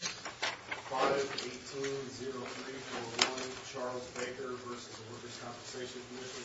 5-18-03-01 Charles Baker v. The Workers' Compensation Commission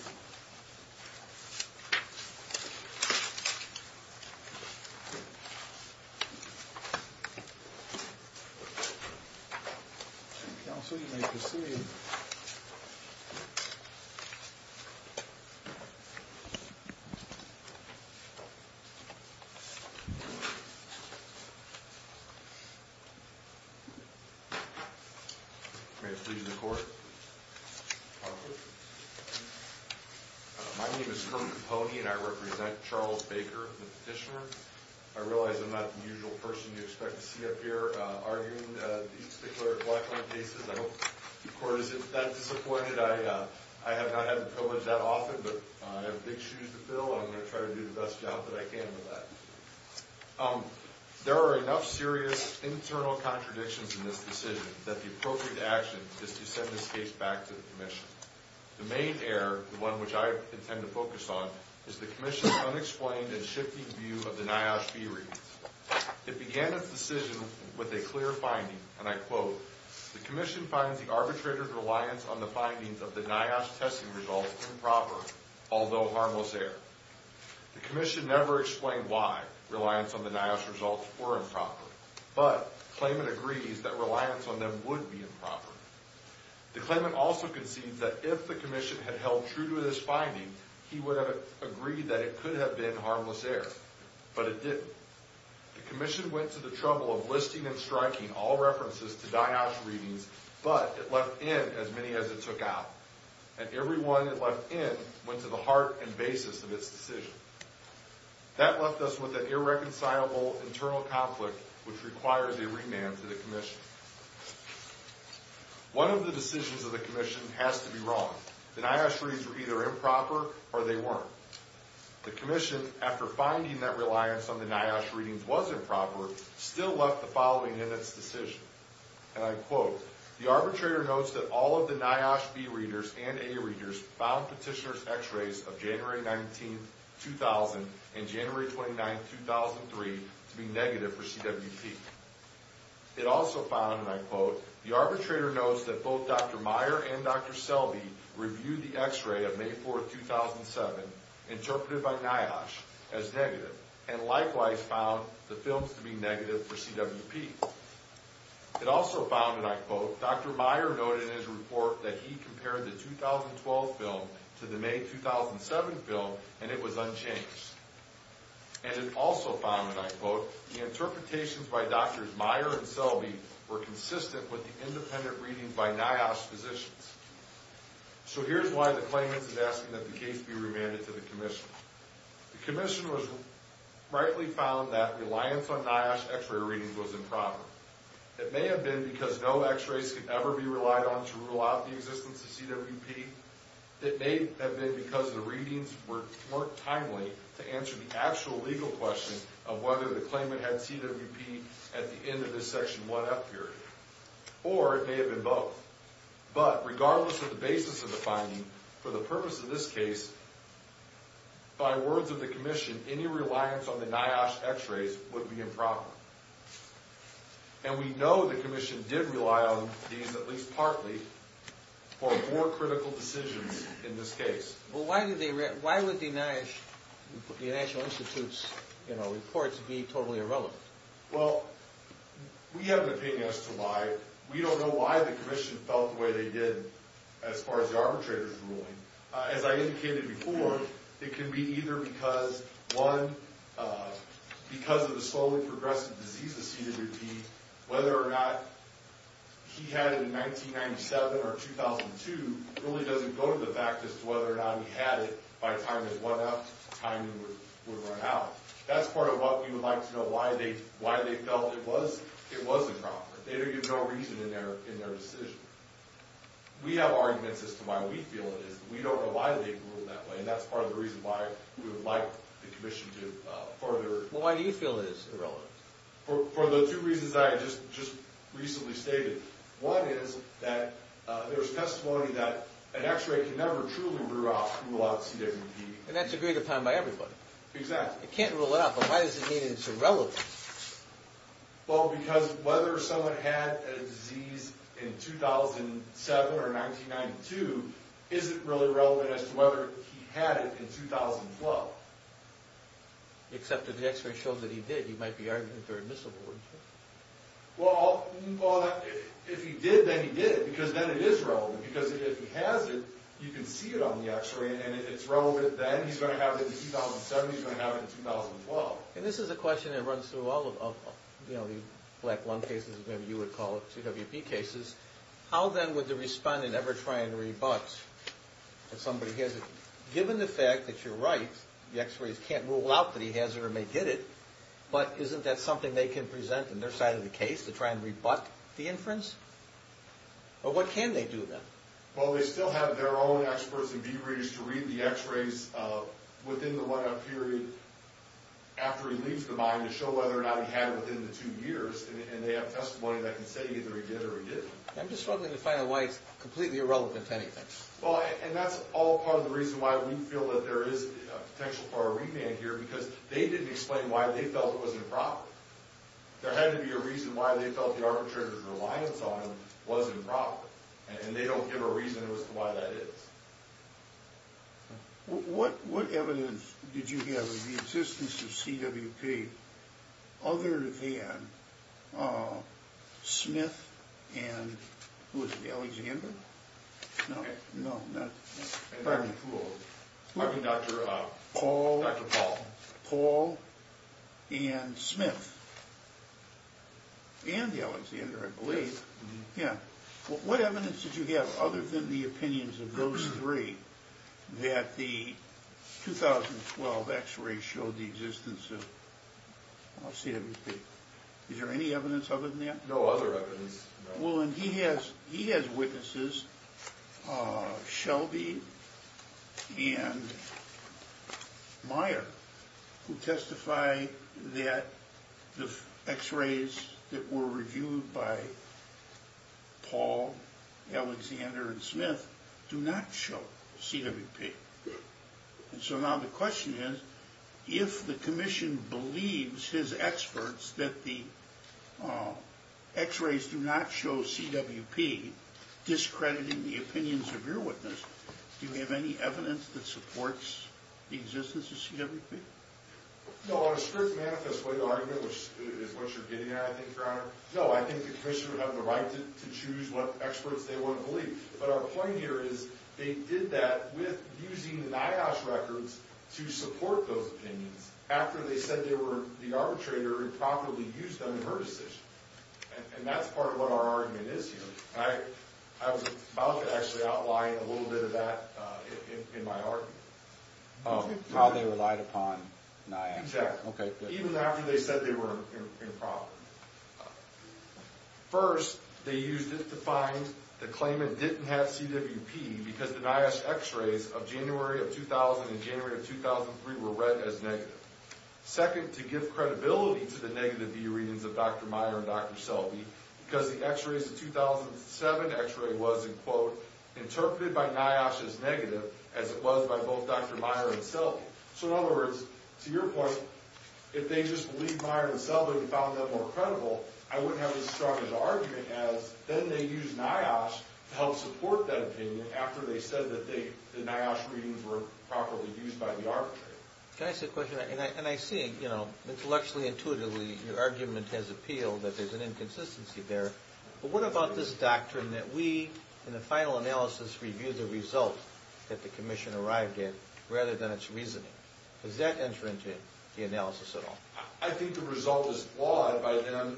My name is Kermit Poney and I represent Charles Baker, the petitioner. I realize I'm not the usual person you'd expect to see up here arguing these particular black-arm cases. I hope the Court isn't that disappointed. I have not had the privilege that often, but I have big shoes to fill and I'm going to try to do the best job that I can with that. There are enough serious internal contradictions in this decision that the appropriate action is to send this case back to the Commission. The main error, the one which I intend to focus on, is the Commission's unexplained and shifting view of the NIOSH fee reliefs. It began its decision with a clear finding, and I quote, The Commission finds the arbitrator's reliance on the findings of the NIOSH testing results improper, although harmless error. The Commission never explained why reliance on the NIOSH results were improper, but the claimant agrees that reliance on them would be improper. The claimant also concedes that if the Commission had held true to this finding, he would have agreed that it could have been harmless error, but it didn't. The Commission went to the trouble of listing and striking all references to NIOSH readings, but it left in as many as it took out, and every one it left in went to the heart and basis of its decision. That left us with an irreconcilable internal conflict which required a remand to the Commission. One of the decisions of the Commission has to be wrong. The NIOSH readings were either improper or they weren't. The Commission, after finding that reliance on the NIOSH readings was improper, still left the following in its decision, and I quote, the arbitrator notes that all of the NIOSH B readers and A readers found petitioner's x-rays of January 19, 2000, and January 29, 2003 to be negative for CWP. It also found, and I quote, the arbitrator notes that both Dr. Meyer and Dr. Selby reviewed the x-ray of May 4, 2007, interpreted by NIOSH as negative, and likewise found the films to be negative for CWP. It also found, and I quote, Dr. Meyer noted in his report that he compared the 2012 film to the May 2007 film, and it was unchanged. And it also found, and I quote, the interpretations by Drs. Meyer and Selby were consistent with the independent readings by NIOSH physicians. So here's why the claimants is asking that the case be remanded to the Commission. The Commission rightly found that reliance on NIOSH x-ray readings was improper. It may have been because no x-rays could ever be relied on to rule out the existence of CWP. It may have been because the readings weren't timely to answer the actual legal question of whether the claimant had CWP at the end of the Section 1F period, or it may have been both. But regardless of the basis of the finding, for the purpose of this case, by words of the Commission, any reliance on the NIOSH x-rays would be improper. And we know the Commission did rely on these, at least partly, for more critical decisions in this case. Well, why would the NIOSH, the National Institute's, you know, reports be totally irrelevant? Well, we have an opinion as to why. We don't know why the Commission felt the way they did, as far as the arbitrators ruling. As I indicated before, it can be either because, one, because of the slowly progressing disease of CWP, whether or not he had it in 1997 or 2002 really doesn't go to the fact as to whether or not he had it by time in 1F, time it would run out. That's part of what we would like to know, why they felt it was improper. They don't give no reason in their decision. We have arguments as to why we feel it is. We don't know why they ruled that way, and that's part of the reason why we would like the Commission to further... Well, why do you feel it is irrelevant? For the two reasons I just recently stated. One is that there's testimony that an x-ray can never truly rule out CWP. And that's agreed upon by everybody. Exactly. It can't rule it out, but why does it mean it's irrelevant? Well, because whether someone had a disease in 2007 or 1992 isn't really relevant as to whether he had it in 2012. Except if the x-ray shows that he did, you might be arguing that they're admissible, wouldn't you? Well, if he did, then he did, because then it is relevant, because if he has it, you can see it on the x-ray, and if it's relevant then, he's going to have it in 2007, he's going to have it in 2012. And this is a question that runs through all of the black lung cases, maybe you would call it, CWP cases. How then would the respondent ever try and rebut that somebody has it? Given the fact that you're right, the x-rays can't rule out that he has it or may get it, but isn't that something they can present on their side of the case to try and rebut the inference? Or what can they do then? Well, they still have their own experts and view readers to read the x-rays within the two years, and they have testimony that can say either he did or he didn't. I'm just struggling to find why it's completely irrelevant to anything. Well, and that's all part of the reason why we feel that there is a potential for a revamp here, because they didn't explain why they felt it was improper. There had to be a reason why they felt the arbitrator's reliance on him was improper, and they don't give a reason as to why that is. What evidence did you have of the existence of CWP other than Smith and, who was it, Alexander? No, no. I mean Dr. Paul. Paul and Smith. And Alexander, I believe. Yes. What evidence did you have other than the opinions of those three that the 2012 x-ray showed the existence of CWP? Is there any evidence other than that? No other evidence. Well, and he has witnesses, Shelby and Meyer, who testify that the x-rays that were reviewed by Paul, Alexander, and Smith do not show CWP. And so now the question is, if the commission believes his experts that the x-rays do not show CWP, discrediting the opinions of your witness, do you have any evidence that supports the existence of CWP? No, on a strict manifest way, the argument is what you're getting at, I think, Your Honor. No, I think the commission would have the right to choose what experts they want to point here is they did that with using NIOSH records to support those opinions after they said they were the arbitrator and promptly used them in her decision. And that's part of what our argument is here. I was about to actually outline a little bit of that in my argument. Oh, how they relied upon NIOSH. Exactly. Okay. Even after they said they were improper. First, they used it to find the claimant didn't have CWP because the NIOSH x-rays of January of 2000 and January of 2003 were read as negative. Second, to give credibility to the negative view readings of Dr. Meyer and Dr. Selby, because the x-rays of 2007 x-ray was, in quote, interpreted by NIOSH as negative, as it was by both Dr. Meyer and Selby. So, in other words, to your point, if they just believed Meyer and Selby and found them more credible, I wouldn't have as strong an argument as then they used NIOSH to help support that opinion after they said that the NIOSH readings were improperly used by the arbitrator. Can I ask a question? And I see, you know, intellectually, intuitively, your argument has appealed that there's an inconsistency there. But what about this doctrine that we, in the final analysis, review the result that the reasoning? Does that enter into the analysis at all? I think the result is flawed by them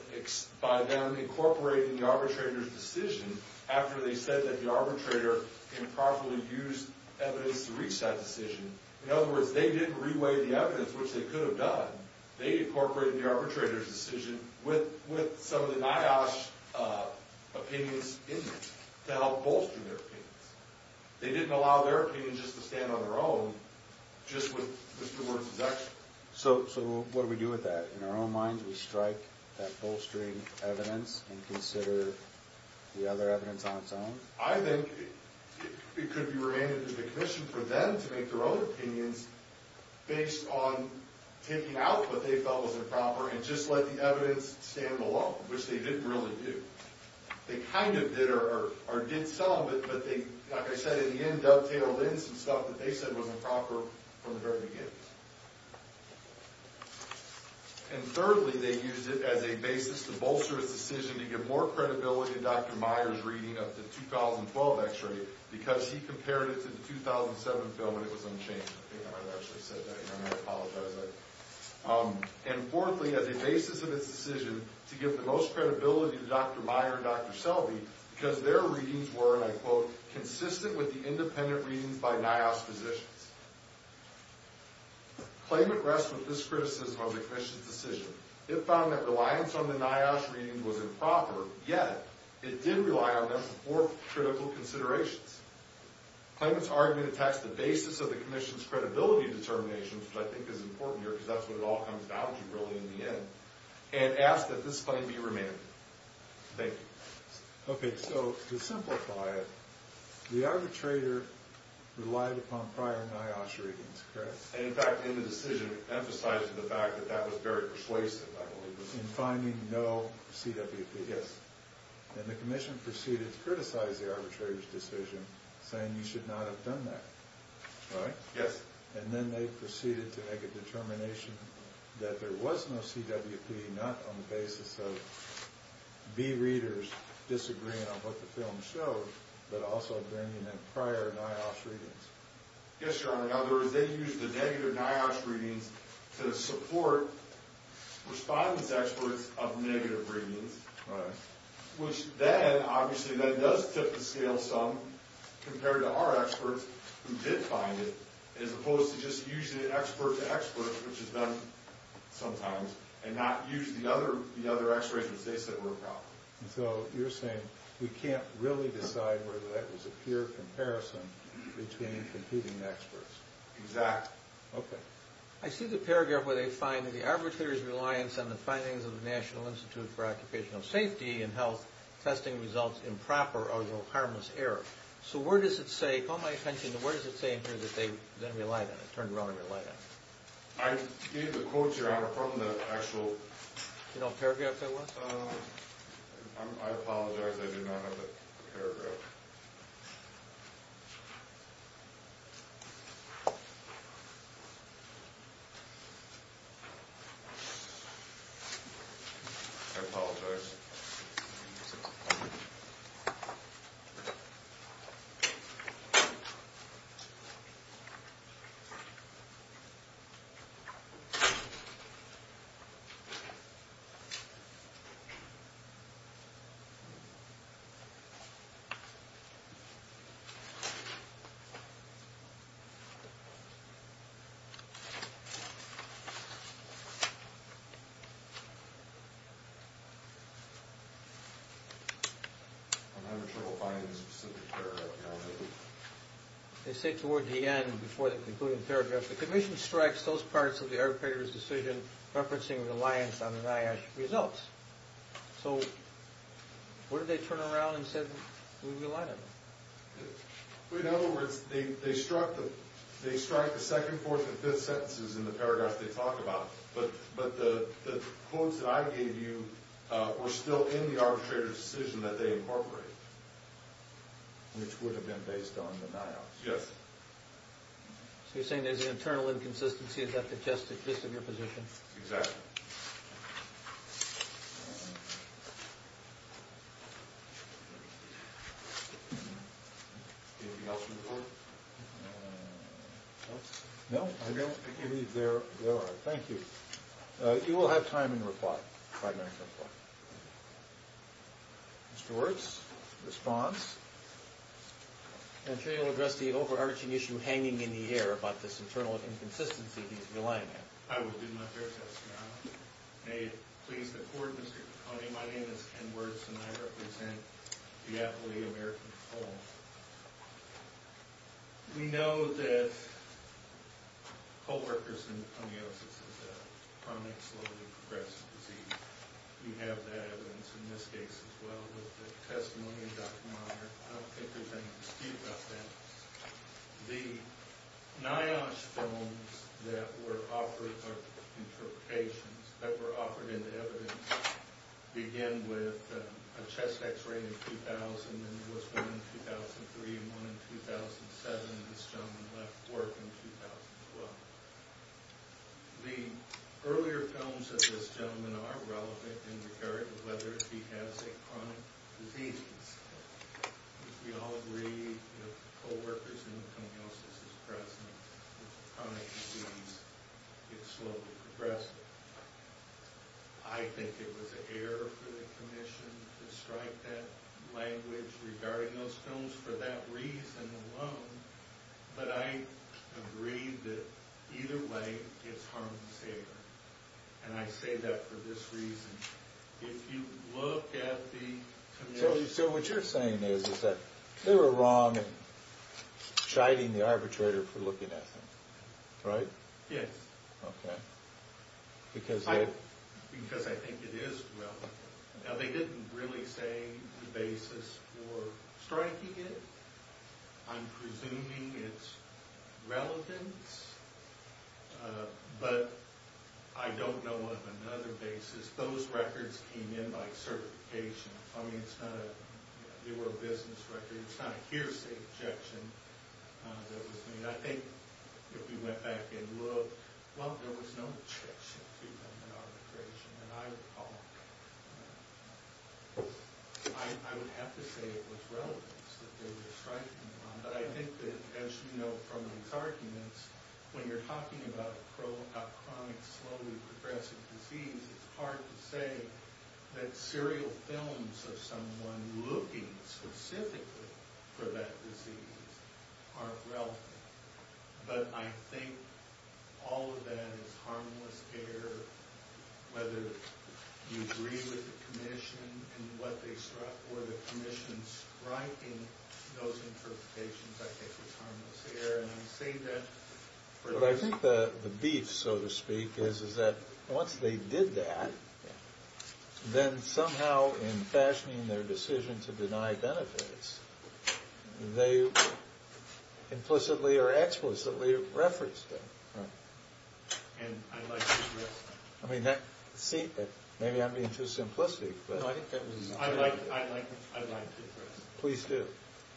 incorporating the arbitrator's decision after they said that the arbitrator improperly used evidence to reach that decision. In other words, they didn't re-weigh the evidence, which they could have done. They incorporated the arbitrator's decision with some of the NIOSH opinions in it to help bolster their opinions. They didn't allow their opinions just to stand on their own, just with Mr. Wertz's expertise. So, what do we do with that? In our own minds, we strike that bolstering evidence and consider the other evidence on its own? I think it could be remanded to the commission for them to make their own opinions based on taking out what they felt was improper and just let the evidence stand alone, which they didn't really do. They kind of did or did some, but they, like I said at the end, dovetailed in some stuff that they said was improper from the very beginning. And thirdly, they used it as a basis to bolster its decision to give more credibility to Dr. Meyer's reading of the 2012 x-ray because he compared it to the 2007 bill and it was unchanged. I think I might have actually said that, and I apologize. And fourthly, as a basis of its decision to give the most credibility to Dr. Meyer and Dr. Selby because their readings were, and I quote, consistent with the independent readings by NIOSH physicians. Claimant rests with this criticism of the commission's decision. It found that reliance on the NIOSH readings was improper, yet it did rely on them for critical considerations. Claimant's argument attacks the basis of the commission's credibility determination, which I think is important here because that's what it all comes down to, really, in the end, and asks that this claim be remanded. Thank you. Okay, so to simplify it, the arbitrator relied upon prior NIOSH readings, correct? And in fact, in the decision, it emphasized the fact that that was very persuasive, I believe. In finding no CWP. Yes. And the commission proceeded to criticize the arbitrator's decision, saying you should not have done that, right? Yes. And then they proceeded to make a determination that there was no CWP, not on the basis of bereaders disagreeing on what the film showed, but also bringing in prior NIOSH readings. Yes, Your Honor. In other words, they used the negative NIOSH readings to support respondents' experts of negative readings. Right. Which then, obviously, that does tip the scale some, compared to our experts who did find it, as opposed to just using it expert to expert, which is done sometimes, and not use the other x-rays, which they said were a problem. So you're saying we can't really decide whether that was a pure comparison between competing experts. Exactly. Okay. I see the paragraph where they find that the arbitrator's reliance on the findings of the National Institute for Occupational Safety and Health testing results improper or harmless error. So where does it say, call my attention to where does it say in here that they then relied on it, turned around and relied on it? The quotes, Your Honor, are from the actual... Do you know what paragraph that was? I apologize. I do not have the paragraph. I apologize. Okay. I'm having trouble finding the specific paragraph, Your Honor. They say toward the end, before the concluding paragraph, the Commission strikes those parts of the arbitrator's decision referencing reliance on the NIOSH results. So where did they turn around and say we relied on them? In other words, they struck the second, fourth, and fifth sentences in the paragraph they talk about, but the quotes that I gave you were still in the arbitrator's decision that they incorporated, which would have been based on the NIOSH. Yes. So you're saying there's an internal inconsistency, is that the gist of your position? Exactly. Anything else from the Court? No, I don't think there are. Thank you. You will have time in reply, if I may, Judge Clark. Mr. Wirtz, response? I'm sure you'll address the overarching issue hanging in the air about this internal inconsistency he's relying on. I will do my fair share, Your Honor. May it please the Court, Mr. Coney. My name is Ken Wirtz, and I represent the Appalachian American Folk. We know that co-workers' endometriosis is a chronic, slowly-progressing disease. You have that evidence in this case as well with the testimony of Dr. Monner. I don't think there's any dispute about that. The NIOSH films that were offered, or interpretations that were offered into evidence, begin with a chest x-ray in 2000, and there was one in 2003 and one in 2007, and this gentleman left work in 2012. The earlier films of this gentleman are relevant in regard to whether he has a chronic disease. We all agree that co-workers' endometriosis is present with chronic disease. It's slowly-progressing. I think it was a error for the Commission to strike that language regarding those films for that reason alone, but I agree that either way, it's harm and favor. And I say that for this reason. If you look at the Commission... So what you're saying is that they were wrong in chiding the arbitrator for looking at them, right? Yes. Okay. Because they... Because I think it is relevant. Now, they didn't really say the basis for striking it. I'm presuming it's relevant, but I don't know of another basis. Those records came in by certification. I mean, it's not a... They were a business record. It's not a hearsay objection that was made. I think if you went back and looked, well, there was no objection to them in arbitration. And I would have to say it was relevant that they were striking them. But I think that, as you know from these arguments, when you're talking about chronic, slowly-progressing disease, it's hard to say that serial films of someone looking specifically for that disease aren't relevant. But I think all of that is harmless air, whether you agree with the Commission and what they struck, or the Commission striking those interpretations, I think, is harmless air. And I'm saying that... But I think the beef, so to speak, is that once they did that, then somehow in fashioning their decision to deny benefits, they implicitly or explicitly referenced them. Right. And I'd like to address that. I mean, see, maybe I'm being too simplistic, but... No, I think that was... I'd like to address that. Please do.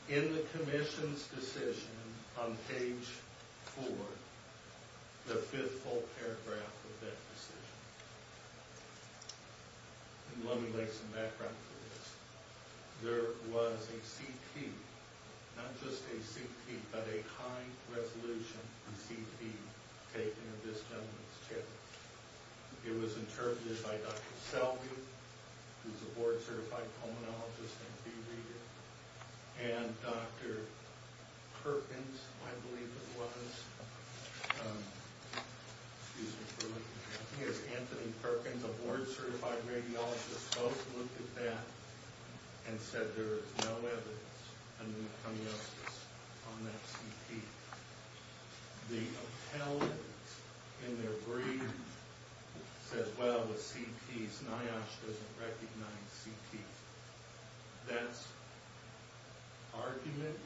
In the Commission's decision on page 4, the fifth full paragraph of that decision, and let me make some background for this, there was a CT, not just a CT, but a high-resolution CT taken of this gentleman's chest. It was interpreted by Dr. Selby, who's a board-certified pulmonologist and DVD reader, and Dr. Perkins, I believe it was. Excuse me for looking at this. Anthony Perkins, a board-certified radiologist, both looked at that and said there is no evidence of pneumococcus on that CT. The appellant in their brief said, well, with CTs, NIOSH doesn't recognize CTs. That's argument.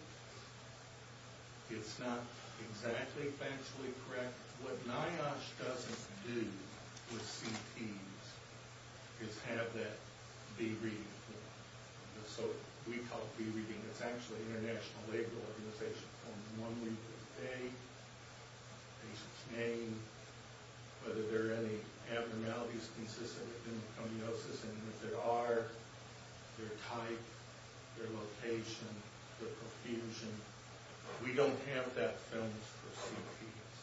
It's not exactly factually correct. What NIOSH doesn't do with CTs is have that be-reading form. So we call it be-reading. It's actually International Labor Organization form. One week of the day, patient's name, whether there are any abnormalities consistent with pneumococcus, and if there are, their type, their location, their profusion. We don't have that filmed for CTs.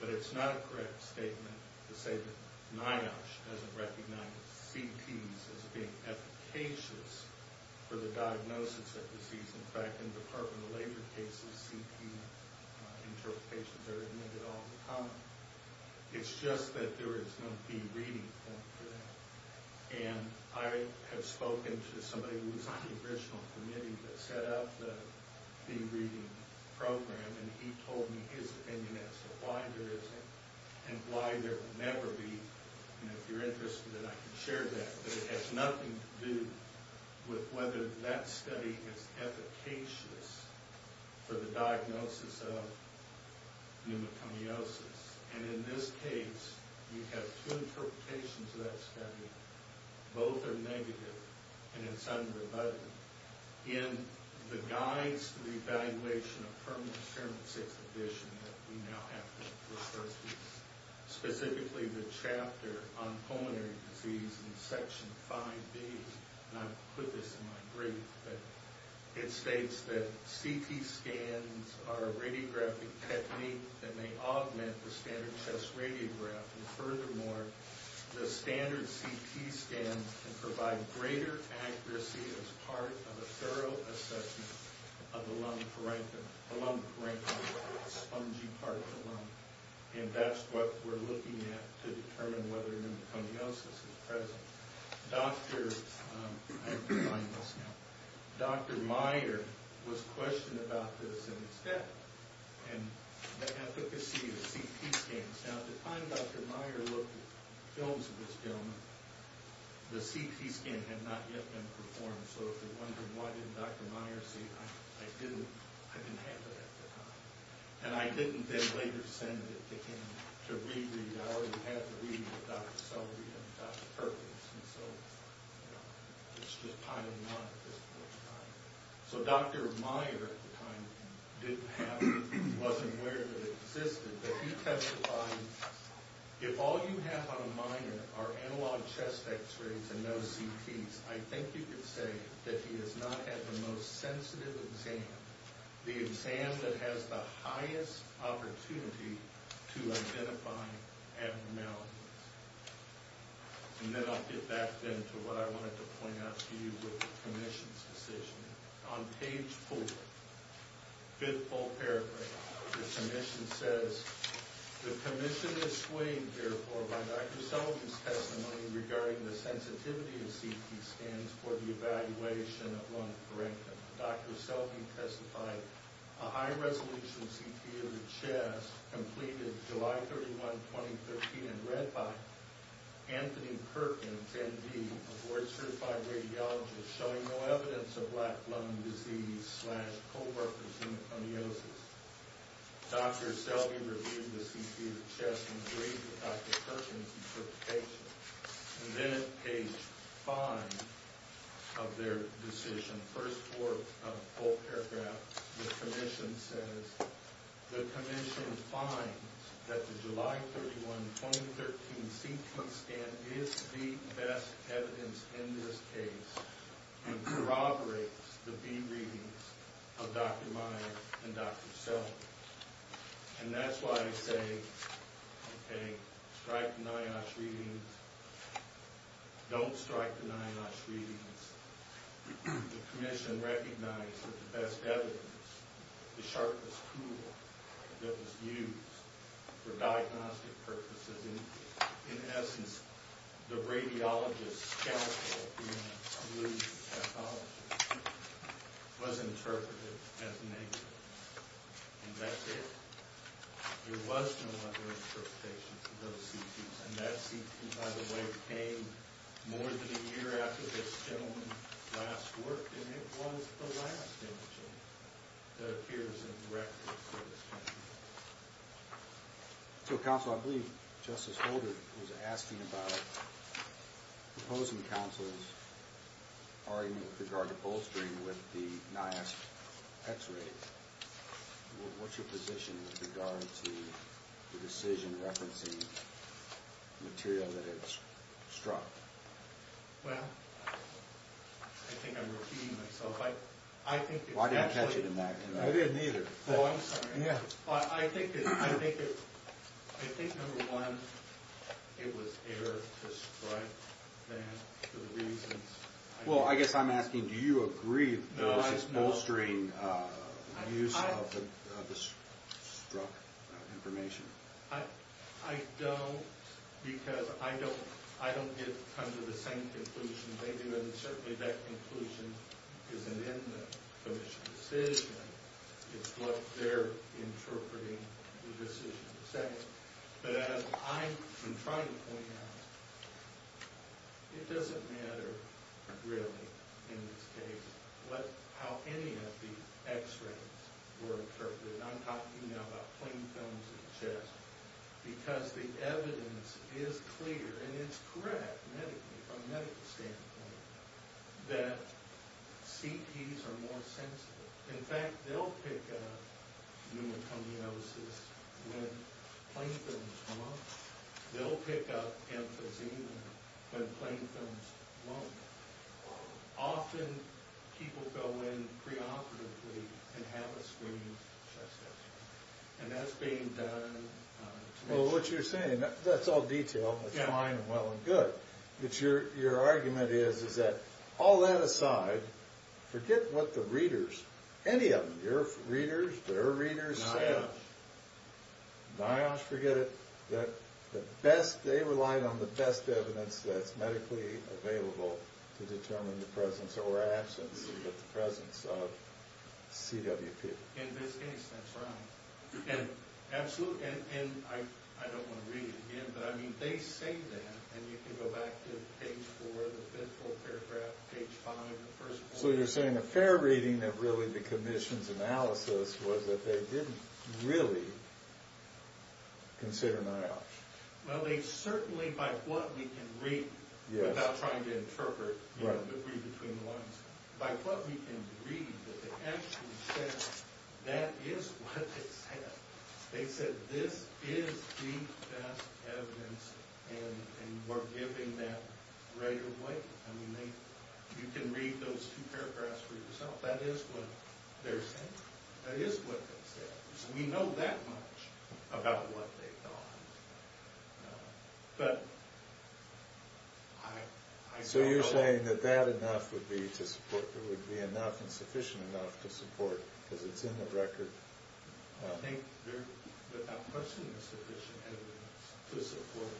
But it's not a correct statement to say that NIOSH doesn't recognize CTs as being efficacious for the diagnosis of disease. In fact, in the Department of Labor cases, CT interpretations are admitted all the time. It's just that there is no be-reading form for that. And I have spoken to somebody who was on the original committee that set up the be-reading program, and he told me his opinion as to why there isn't and why there will never be. And if you're interested, I can share that. But it has nothing to do with whether that study is efficacious for the diagnosis of pneumoconiosis. And in this case, you have two interpretations of that study. Both are negative, and it's unrebutted. In the Guides to the Evaluation of Permanent Experiment 6 Edition that we now have to refer to, specifically the chapter on pulmonary disease in Section 5B, and I put this in my brief, but it states that CT scans are a radiographic technique that may augment the standard chest radiograph. And furthermore, the standard CT scans can provide greater accuracy as part of a thorough assessment of the lung parenchyma, the spongy part of the lung. And that's what we're looking at to determine whether pneumoconiosis is present. Dr. Meier was questioned about this in his death, and the efficacy of CT scans. Now, at the time Dr. Meier looked at films of this gentleman, the CT scan had not yet been performed. So if you're wondering, why didn't Dr. Meier say, I didn't have it at the time. And I didn't then later send it to him to re-read. I already had the reading of Dr. Sellery and Dr. Perkins. And so, you know, it's just piled on at this point in time. So Dr. Meier, at the time, didn't have it. He wasn't aware that it existed. But he testified, if all you have on a minor are analog chest X-rays and no CTs, I think you could say that he has not had the most sensitive exam, the exam that has the highest opportunity to identify abnormalities. And then I'll get back then to what I wanted to point out to you with the commission's decision. On page 4, fifth full paragraph, the submission says, The commission is swayed, therefore, by Dr. Selvey's testimony regarding the sensitivity of CT scans for the evaluation of lung corrective. Dr. Selvey testified a high-resolution CT of the chest completed July 31, 2013, and read by Anthony Perkins, MD, a board-certified radiologist, showing no evidence of black lung disease slash co-representative amniosis. Dr. Selvey reviewed the CT of the chest and agreed with Dr. Perkins, who took the patient. And then at page 5 of their decision, first fourth full paragraph, the commission says, The commission finds that the July 31, 2013 CT scan is the best evidence in this case and corroborates the feed readings of Dr. Meyer and Dr. Selvey. And that's why I say, okay, strike the NIOSH readings. Don't strike the NIOSH readings. The commission recognized that the best evidence, the sharpest tool that was used for diagnostic purposes, in essence, the radiologist's counsel, who was a pathologist, was interpreted as negative. And that's it. There was no other interpretation for those CTs. And that CT, by the way, came more than a year after this gentleman last worked, and it was the last imaging that appears in the record for this gentleman. So, counsel, I believe Justice Holder was asking about proposing counsel's argument with regard to bolstering with the NIOSH X-rays. What's your position with regard to the decision referencing material that it struck? Well, I think I'm repeating myself. I think it's actually... Well, I didn't catch it in that. I didn't either. Oh, I'm sorry. I think, number one, it was error to strike that for the reasons... Well, I guess I'm asking, do you agree that this is bolstering use of the struck information? I don't, because I don't come to the same conclusion they do, and certainly that conclusion isn't in the commission's decision. It's what they're interpreting the decision to say. But as I'm trying to point out, it doesn't matter, really, in this case, how any of the X-rays were interpreted. I'm talking now about plain films of the chest, because the evidence is clear, and it's correct medically, from a medical standpoint, that CTs are more sensible. In fact, they'll pick up pneumoconiosis when plain films won't. They'll pick up emphysema when plain films won't. Often, people go in preoperatively and have a screened chest X-ray, and that's being done... Well, what you're saying, that's all detail. It's fine and well and good. But your argument is that, all that aside, forget what the readers, any of them, your readers, their readers, say. NIOSH. NIOSH, forget it. They relied on the best evidence that's medically available to determine the presence or absence of CWP. In this case, that's right. And I don't want to read it again, but, I mean, they say that, and you can go back to page 4, the fifth full paragraph, page 5, the first one. So you're saying a fair reading of, really, the commission's analysis was that they didn't really consider NIOSH. Well, they certainly, by what we can read, without trying to interpret, read between the lines, by what we can read, that they actually said, that is what they said. They said, this is the best evidence, and we're giving that right away. I mean, you can read those two paragraphs for yourself. That is what they're saying. That is what they said. We know that much about what they thought. But, I... So you're saying that that enough would be to support, it would be enough and sufficient enough to support, because it's in the record. I think there, without question, is sufficient evidence to support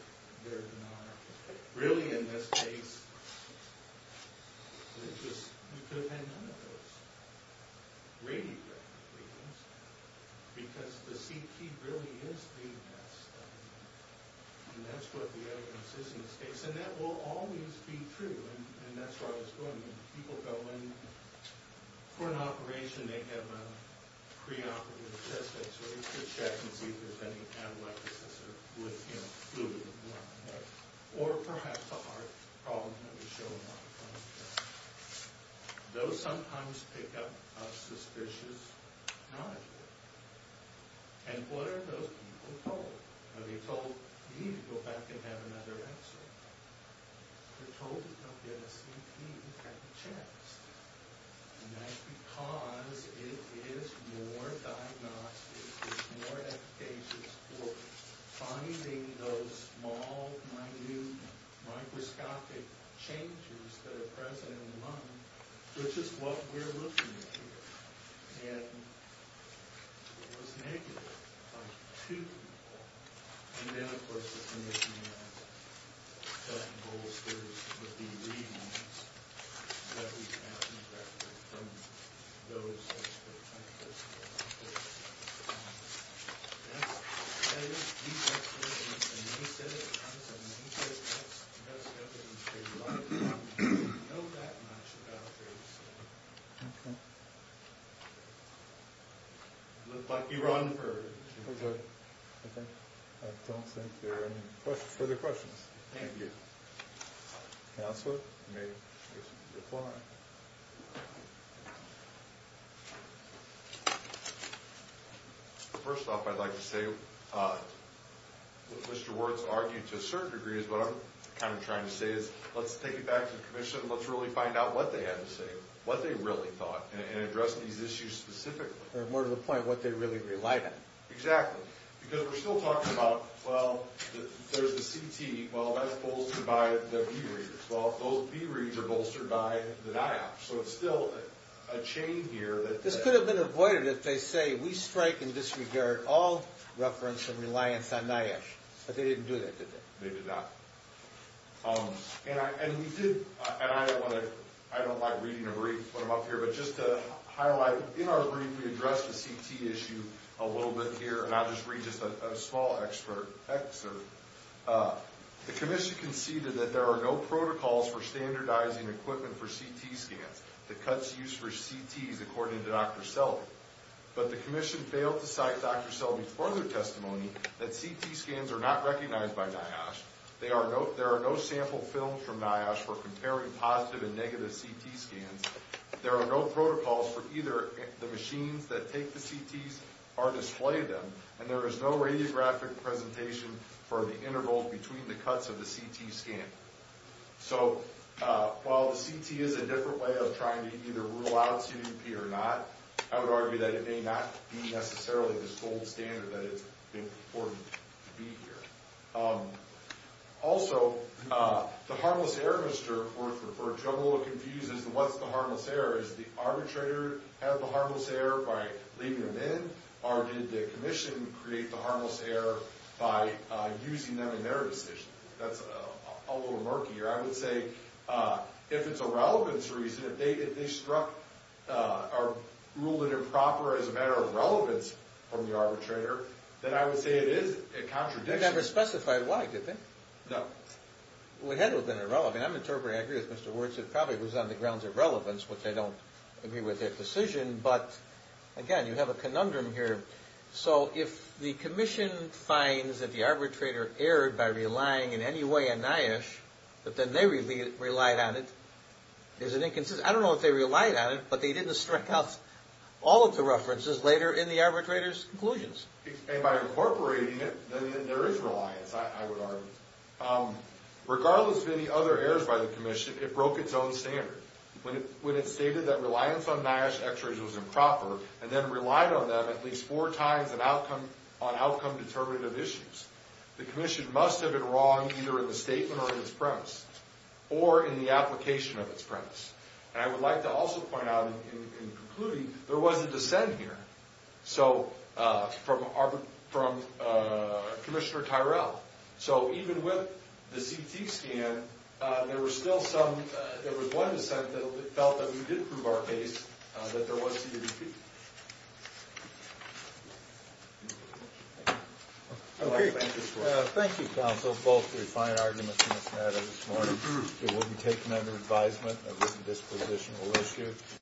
their denial. Really, in this case, it just, you could have had none of those. Read it. Because the CT really is being messed up. And that's what the evidence is in this case. And that will always be true. And that's where I was going. When people go in for an operation, they have a preoperative test. They check and see if there's any amyloidosis or fluid in the blood. Or perhaps a heart problem. Let me show you. Those sometimes pick up a suspicious nod. And what are those people told? Are they told, you need to go back and have another X-ray? They're told to come get a CT at the chest. And that's because it is more diagnostic, it's more efficacious for finding those small, minute, microscopic changes that are present in the lung, which is what we're looking at here. And it was negative by two people. And then, of course, the condition of the bolsters would be readings that we have from those experts. I don't think there are any further questions. Thank you. Counselor, you may decline. First off, I'd like to say, what Mr. Wirtz argued to a certain degree is what I'm kind of trying to say is, let's take it back to the commission and let's really find out what they had to say, what they really thought, and address these issues specifically. More to the point, what they really relied on. Exactly. Because we're still talking about, well, there's the CT. Well, that's bolstered by the V-readers. Well, those V-readers are bolstered by the NIOSH. So it's still a chain here that... This could have been avoided if they say, we strike and disregard all reference and reliance on NIOSH. But they didn't do that, did they? They did not. And we did... And I don't like reading a brief when I'm up here. But just to highlight, in our brief, we addressed the CT issue a little bit here. And I'll just read just a small excerpt. The commission conceded that there are no protocols for standardizing equipment for CT scans. The cuts used for CTs, according to Dr. Selvey. But the commission failed to cite Dr. Selvey's further testimony that CT scans are not recognized by NIOSH. There are no sample films from NIOSH for comparing positive and negative CT scans. There are no protocols for either. The machines that take the CTs are displayed to them. And there is no radiographic presentation for the intervals between the cuts of the CT scan. So, while the CT is a different way of trying to either rule out CDP or not, I would argue that it may not be necessarily this gold standard that it's important to be here. Also, the harmless error, Mr. Worth referred to, I'm a little confused as to what's the harmless error. Does the arbitrator have the harmless error by leaving them in? Or did the commission create the harmless error by using them in their decision? That's a little murky. Or I would say, if it's a relevance reason, if they ruled it improper as a matter of relevance from the arbitrator, then I would say it is a contradiction. They never specified why, did they? No. Well, it had to have been irrelevant. I'm interpreting, I agree with Mr. Worth, it probably was on the grounds of relevance, which I don't agree with their decision. But, again, you have a conundrum here. So, if the commission finds that the arbitrator erred by relying in any way on NIOSH, but then they relied on it, is it inconsistent? I don't know if they relied on it, but they didn't strike out all of the references later in the arbitrator's conclusions. And by incorporating it, then there is reliance, I would argue. Regardless of any other errors by the commission, it broke its own standard. When it stated that reliance on NIOSH x-rays was improper, and then relied on them at least four times on outcome-determinative issues, the commission must have been wrong either in the statement or in its premise, or in the application of its premise. And I would like to also point out, in concluding, there was a dissent here from Commissioner Tyrell. So, even with the CT scan, there was one dissent that felt that we did prove our case, that there was CDP. Thank you. Thank you, counsel. Both refined arguments in this matter this morning. It will be taken under advisement as a dispositional issue.